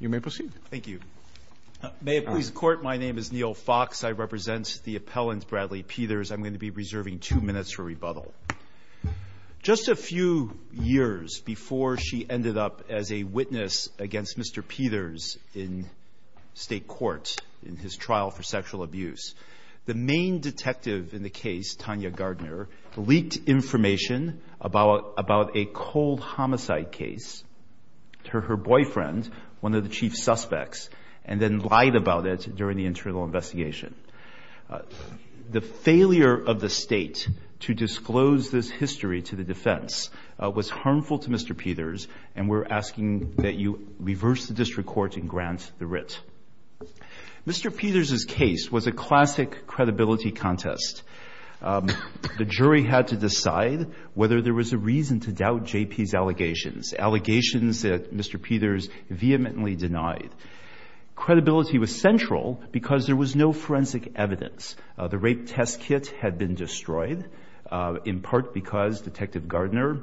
You may proceed. Thank you. May it please the court, my name is Neil Fox. I represent the appellant, Bradley Peters. I'm going to be reserving two minutes for rebuttal. Just a few years before she ended up as a witness against Mr. Peters in state court in his trial for sexual abuse, the main detective in the case, Tanya Gardner, leaked information about a cold homicide case. Her boyfriend, one of the chief suspects, and then lied about it during the internal investigation. The failure of the state to disclose this history to the defense was harmful to Mr. Peters, and we're asking that you reverse the district court and grant the writ. Mr. Peters' case was a classic credibility contest. The jury had to decide whether there was a reason to doubt JP's allegations, allegations that Mr. Peters vehemently denied. Credibility was central because there was no forensic evidence. The rape test kit had been destroyed, in part because Detective Gardner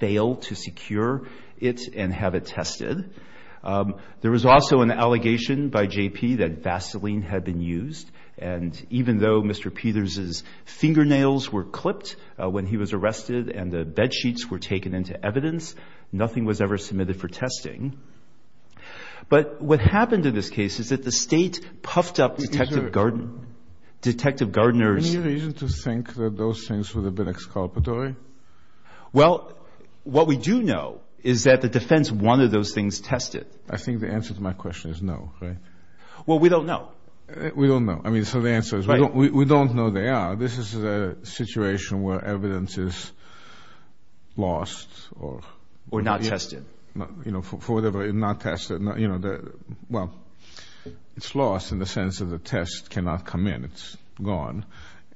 failed to secure it and have it tested. There was also an allegation by JP that Vaseline had been used. And even though Mr. Peters' fingernails were clipped when he was arrested and the bedsheets were taken into evidence, nothing was ever submitted for testing. But what happened in this case is that the state puffed up Detective Gardner's- Is there any reason to think that those things would have been exculpatory? Well, what we do know is that the defense wanted those things tested. I think the answer to my question is no, right? Well, we don't know. We don't know. I mean, so the answer is we don't know they are. This is a situation where evidence is lost or- Or not tested. You know, for whatever, not tested, you know, well, it's lost in the sense of the test cannot come in. It's gone.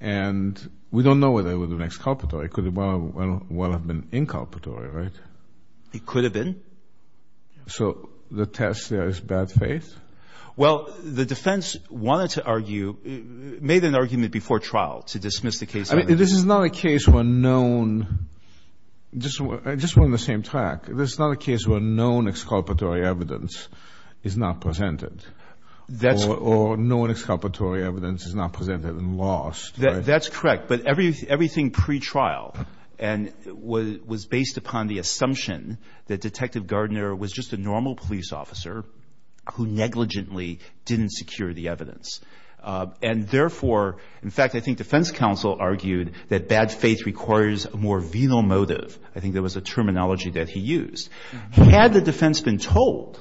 And we don't know whether it would have been exculpatory. It could well have been inculpatory, right? It could have been. So the test there is bad faith? Well, the defense wanted to argue, made an argument before trial to dismiss the case. I mean, this is not a case where known, just we're on the same track. This is not a case where known exculpatory evidence is not presented. That's- Or known exculpatory evidence is not presented and lost. That's correct. But everything pre-trial was based upon the assumption that Detective Gardner was just a normal police officer who negligently didn't secure the evidence. And therefore, in fact, I think defense counsel argued that bad faith requires a more venal motive. I think there was a terminology that he used. Had the defense been told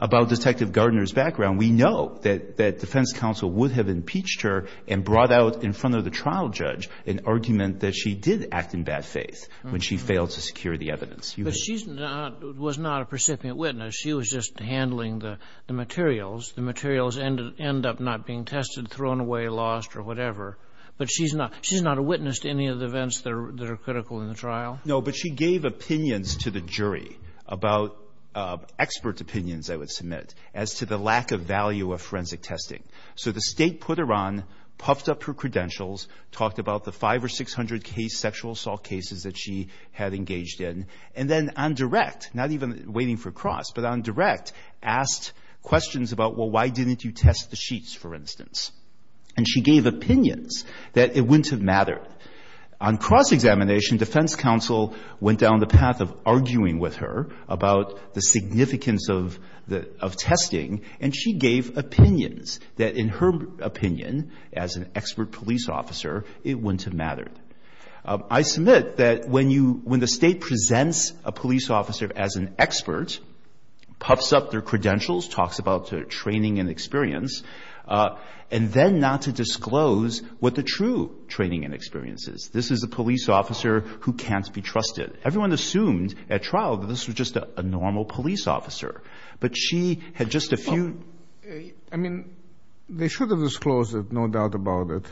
about Detective Gardner's background, we know that defense counsel would have impeached her and brought out in front of the trial judge an argument that she did act in bad faith when she failed to secure the evidence. But she's not, was not a precipient witness. She was just handling the materials. The materials ended up not being tested, thrown away, lost, or whatever. But she's not a witness to any of the events that are critical in the trial. No, but she gave opinions to the jury about expert opinions, I would submit, as to the lack of value of forensic testing. So the state put her on, puffed up her credentials, talked about the five or 600 case, sexual assault cases that she had engaged in. And then on direct, not even waiting for cross, but on direct, asked questions about, well, why didn't you test the sheets, for instance? And she gave opinions that it wouldn't have mattered. On cross-examination, defense counsel went down the path of arguing with her about the significance of testing, and she gave opinions that, in her opinion, as an expert police officer, it wouldn't have mattered. I submit that when you, when the state presents a police officer as an expert, puffs up their credentials, talks about their training and experience, and then not to disclose what the true training and experience is. This is a police officer who can't be trusted. Everyone assumed, at trial, that this was just a normal police officer. But she had just a few... I mean, they should have disclosed it, no doubt about it.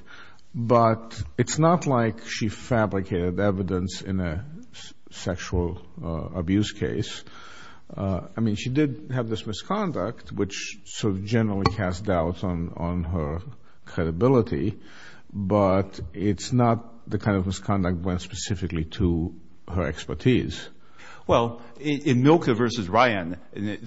But it's not like she fabricated evidence in a sexual abuse case. I mean, she did have this misconduct, which sort of generally has doubts on her credibility, but it's not the kind of misconduct went specifically to her expertise. Well, in Milka v. Ryan,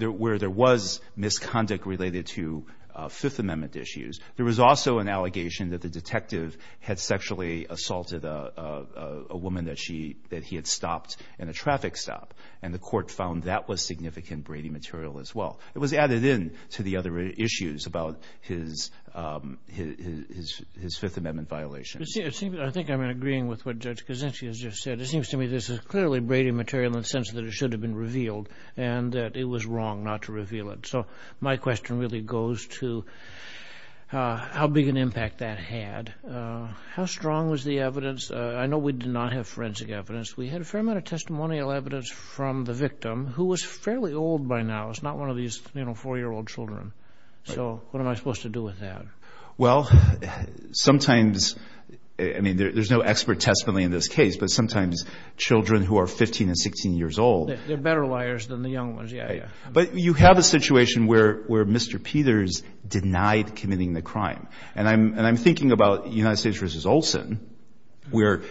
where there was misconduct related to Fifth Amendment issues, there was also an allegation that the detective had sexually assaulted a woman that he had stopped in a traffic stop, and the court found that was significant Brady material as well. It was added in to the other issues about his Fifth Amendment violations. I think I'm agreeing with what Judge Koczynski has just said. It seems to me this is clearly Brady material in the sense that it should have been revealed, and that it was wrong not to reveal it. So my question really goes to how big an impact that had. How strong was the evidence? I know we did not have forensic evidence. We had a fair amount of testimonial evidence from the victim, who was fairly old by now. It's not one of these, you know, four-year-old children. So what am I supposed to do with that? Well, sometimes... I mean, there's no expert testimony in this case, but sometimes children who are 15 and 16 years old... They're better liars than the young ones, yeah. But you have a situation where Mr. Peters denied committing the crime. And I'm thinking about United States v. Olson, where,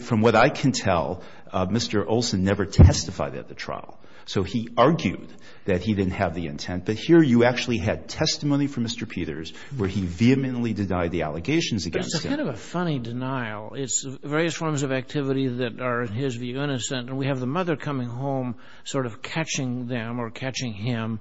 from what I can tell, Mr. Olson never testified at the trial. So he argued that he didn't have the intent. But here you actually had testimony from Mr. Peters where he vehemently denied the allegations against him. But it's kind of a funny denial. It's various forms of activity that are, in his view, innocent. And we have the mother coming home, sort of catching them or catching him.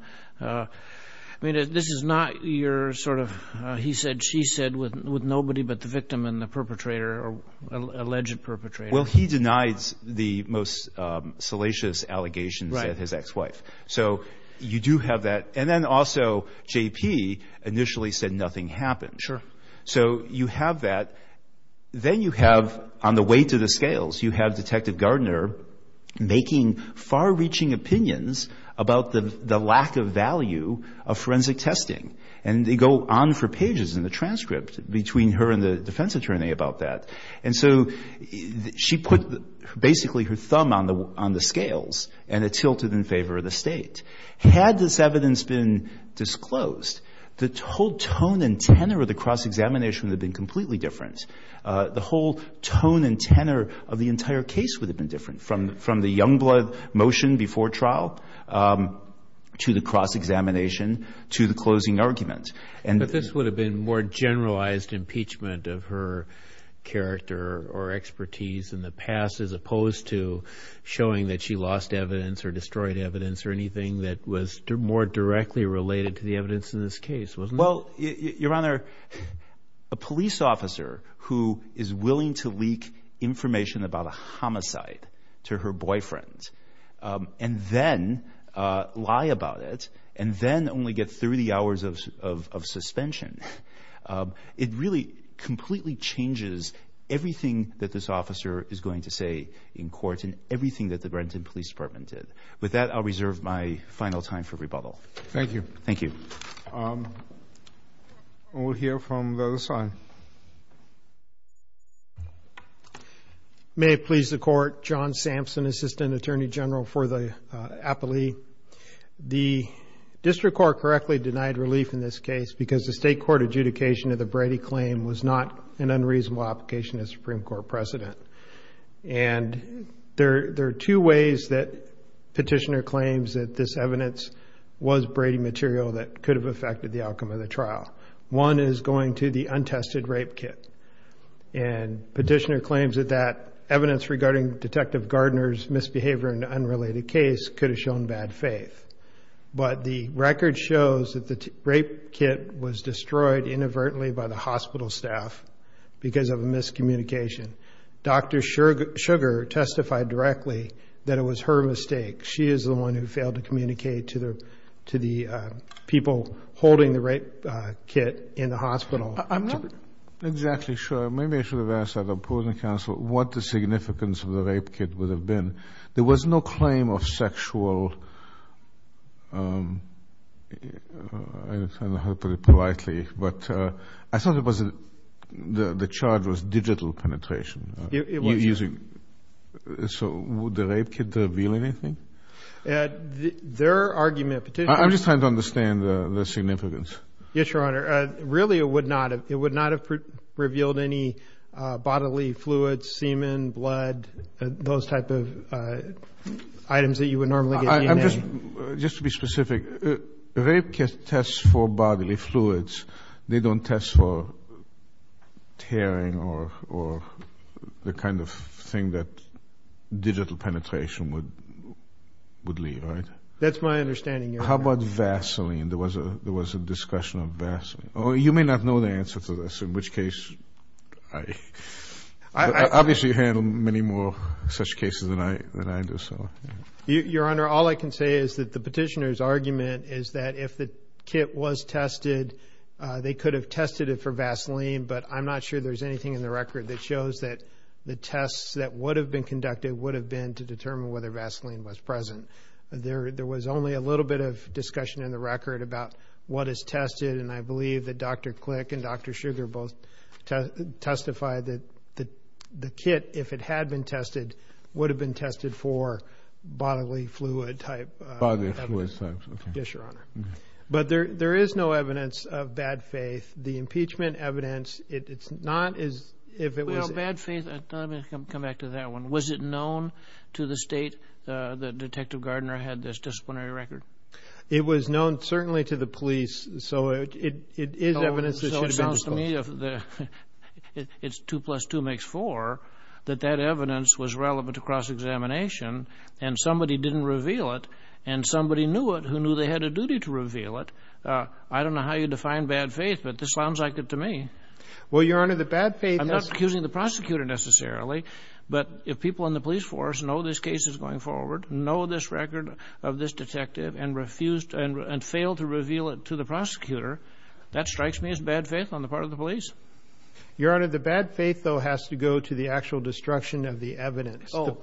I mean, this is not your sort of... What did she said with nobody but the victim and the perpetrator, or alleged perpetrator? Well, he denies the most salacious allegations at his ex-wife. So you do have that. And then also, JP initially said nothing happened. Sure. So you have that. Then you have, on the way to the scales, you have Detective Gardner making far-reaching opinions about the lack of value of forensic testing. And they go on for pages in the transcript between her and the defence attorney about that. And so she put basically her thumb on the scales and it tilted in favour of the State. Had this evidence been disclosed, the whole tone and tenor of the cross-examination would have been completely different. The whole tone and tenor of the entire case would have been different, from the Youngblood motion before trial to the cross-examination to the closing argument. But this would have been more generalised impeachment of her character or expertise in the past, as opposed to showing that she lost evidence or destroyed evidence or anything that was more directly related to the evidence in this case, wasn't it? Well, Your Honour, a police officer who is willing to leak information about a homicide to her boyfriend and then lie about it, and then only get 30 hours of suspension, it really completely changes everything that this officer is going to say in court and everything that the Brenton Police Department did. With that, I'll reserve my final time for rebuttal. Thank you. Thank you. We'll hear from the other side. May it please the Court, John Sampson, Assistant Attorney General for the appellee. The district court correctly denied relief in this case because the state court adjudication of the Brady claim was not an unreasonable application of Supreme Court precedent. And there are two ways that Petitioner claims that this evidence was Brady material that could have affected the outcome of the trial. One is going to the untested rape kit. And Petitioner claims that that evidence regarding Detective Gardner's misbehavior in an unrelated case could have shown bad faith. But the record shows that the rape kit was destroyed inadvertently by the hospital staff because of a miscommunication. Dr. Sugar testified directly that it was her mistake. She is the one who failed to communicate to the people holding the rape kit in the hospital. I'm not exactly sure. Maybe I should have asked that opposing counsel what the significance of the rape kit would have been. There was no claim of sexual... I don't know how to put it politely, but I thought it was... The charge was digital penetration. It was. Using... So would the rape kit reveal anything? Their argument... I'm just trying to understand the significance. Yes, Your Honor. Really, it would not have revealed any bodily fluids, semen, blood, those type of items that you would normally get in a... Just to be specific, rape kits test for bodily fluids. They don't test for tearing or the kind of thing that digital penetration would leave, right? That's my understanding, Your Honor. How about Vaseline? There was a discussion of Vaseline. You may not know the answer to this, in which case... Obviously, you've handled many more such cases than I do, so... Your Honor, all I can say is that the petitioner's argument is that if the kit was tested, they could have tested it for Vaseline, but I'm not sure there's anything in the record that shows that the tests that would have been conducted would have been to determine whether Vaseline was present. There was only a little bit of discussion in the record about what is tested, and I believe that Dr. Click and Dr. Sugar both testified that the kit, if it had been tested, would have been tested for bodily fluid type... Bodily fluid types, okay. Yes, Your Honor. But there is no evidence of bad faith. The impeachment evidence, it's not as if it was... Well, bad faith, let me come back to that one. Was it known to the state that Detective Gardner had this disciplinary record? It was known certainly to the police, so it is evidence that should have been disclosed. It's 2 plus 2 makes 4, that that evidence was relevant to cross-examination, and somebody didn't reveal it, and somebody knew it who knew they had a duty to reveal it. I don't know how you define bad faith, but this sounds like it to me. Well, Your Honor, the bad faith... I'm not accusing the prosecutor necessarily, but if people in the police force know this case is going forward, know this record of this detective, and failed to reveal it to the prosecutor, that strikes me as bad faith on the part of the police. Your Honor, the bad faith, though, has to go to the actual destruction of the evidence. Oh,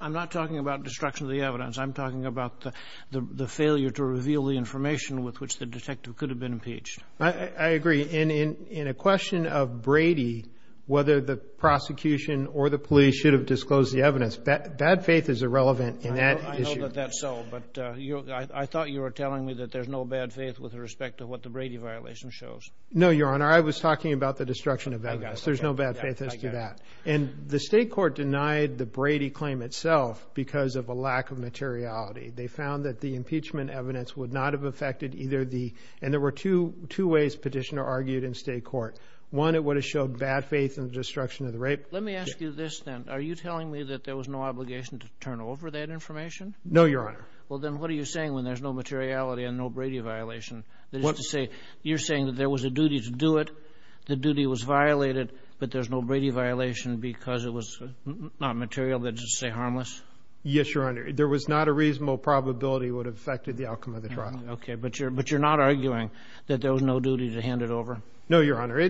I'm not talking about destruction of the evidence. I'm talking about the failure to reveal the information with which the detective could have been impeached. I agree. In a question of Brady, whether the prosecution or the police should have disclosed the evidence, bad faith is irrelevant in that issue. I know that that's so, but I thought you were telling me that there's no bad faith with respect to what the Brady violation shows. No, Your Honor. I was talking about the destruction of evidence. There's no bad faith as to that. And the state court denied the Brady claim itself because of a lack of materiality. They found that the impeachment evidence would not have affected either the... And there were two ways Petitioner argued in state court. One, it would have showed bad faith in the destruction of the rape. Let me ask you this, then. Are you telling me that there was no obligation to turn over that information? No, Your Honor. Well, then what are you saying when there's no materiality and no Brady violation? That is to say, you're saying that there was a duty to do it, the duty was violated, but there's no Brady violation because it was not material, let's just say harmless? Yes, Your Honor. There was not a reasonable probability it would have affected the outcome of the trial. Okay, but you're not arguing that there was no duty to hand it over? No, Your Honor.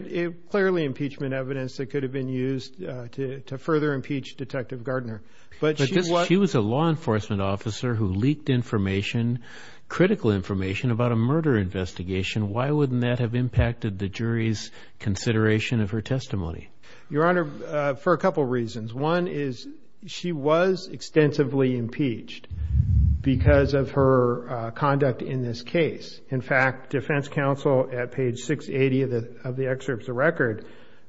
Clearly, impeachment evidence that could have been used to further impeach Detective Gardner. But she was... She was a law enforcement officer who leaked information, critical information, about a murder investigation. Why wouldn't that have impacted the jury's consideration of her testimony? Your Honor, for a couple reasons. One is she was extensively impeached because of her conduct in this case. In fact, defense counsel, at page 680 of the excerpt of the record,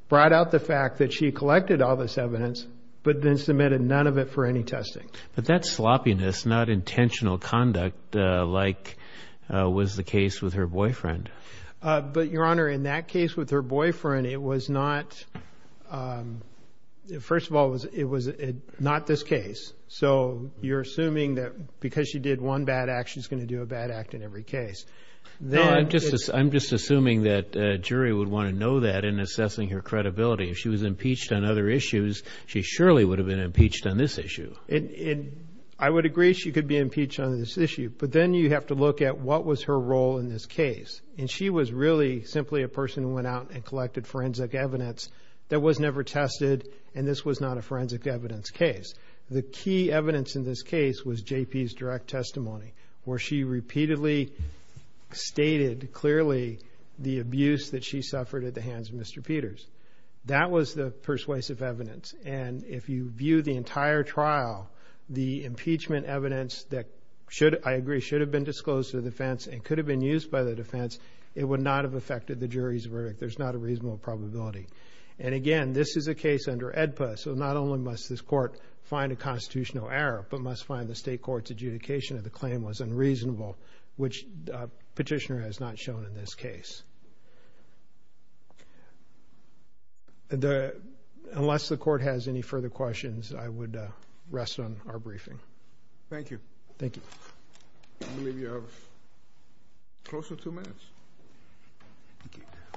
brought out the fact that she collected all this evidence, but then submitted none of it for any testing. But that sloppiness, not intentional conduct-like, was the case with her boyfriend. But, Your Honor, in that case with her boyfriend, it was not... First of all, it was not this case. So you're assuming that because she did one bad act, she's gonna do a bad act in every case. No, I'm just assuming that a jury would want to know that in assessing her credibility. If she was impeached on other issues, she surely would have been impeached on this issue. And I would agree she could be impeached on this issue, but then you have to look at what was her role in this case. And she was really simply a person who went out and collected forensic evidence that was never tested, and this was not a forensic evidence case. The key evidence in this case was J.P.'s direct testimony, where she repeatedly stated clearly the abuse that she suffered at the hands of Mr. Peters. That was the persuasive evidence. And if you view the entire trial, the impeachment evidence that should... I agree, should have been disclosed to the defense and could have been used by the defense, it would not have affected the jury's verdict. There's not a reasonable probability. And again, this is a case under AEDPA, so not only must this court find a constitutional error, but must find the state court's adjudication of the claim was unreasonable, which Petitioner has not shown in this case. Unless the court has any further questions, I would rest on our briefing. Thank you. Thank you. I believe you have close to two minutes.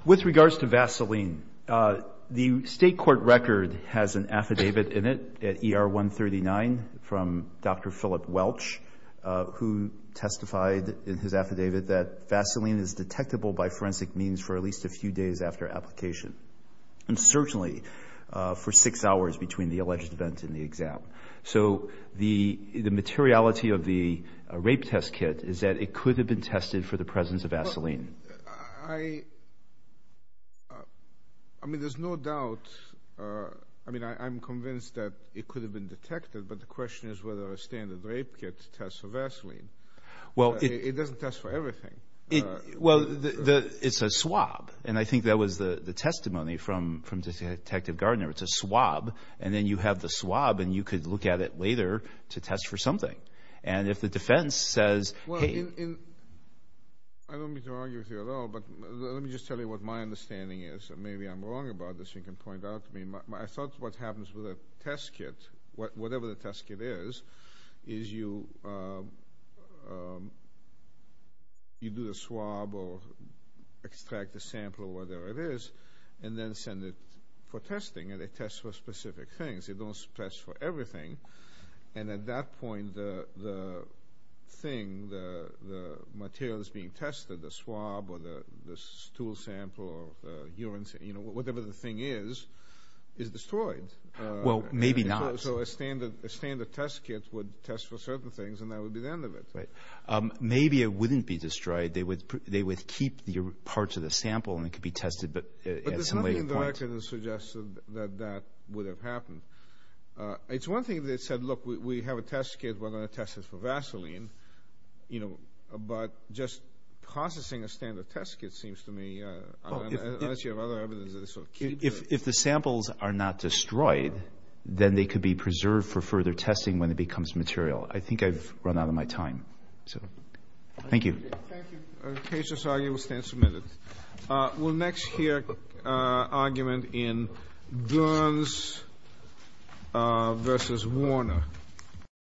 With regards to Vaseline, the state court record has an affidavit in it at ER 139 from Dr. Philip Welch, who testified in his affidavit that Vaseline is detectable by forensic means for at least a few days after application, and certainly for six hours between the alleged event and the exam. So the materiality of the rape test kit is that it could have been tested for the presence of Vaseline. I mean, there's no doubt... I mean, I'm convinced that it could have been detected, but the question is whether a standard rape kit tests for Vaseline. It doesn't test for everything. Well, it's a swab, and I think that was the testimony from Detective Gardner. It's a swab, and then you have the swab and you could look at it later to test for something. And if the defense says, hey... Well, I don't mean to argue with you at all, but let me just tell you what my understanding is. Maybe I'm wrong about this, you can point out to me. I thought what happens with a test kit, whatever the test kit is, is you... you do the swab or extract the sample or whatever it is, and then send it for testing, and it tests for specific things. It doesn't test for everything. And at that point, the thing, the material that's being tested, the swab or the stool sample or the urine sample, whatever the thing is, is destroyed. Well, maybe not. So a standard test kit would test for certain things, and that would be the end of it. Maybe it wouldn't be destroyed. They would keep parts of the sample and it could be tested at some later point. But there's nothing in the record that suggests that that would have happened. It's one thing if they said, look, we have a test kit, we're going to test it for Vaseline. You know, but just processing a standard test kit seems to me... Unless you have other evidence of this sort. If the samples are not destroyed, then they could be preserved for further testing when it becomes material. I think I've run out of my time. Thank you. Thank you. We'll next hear an argument in Gerns versus Warner.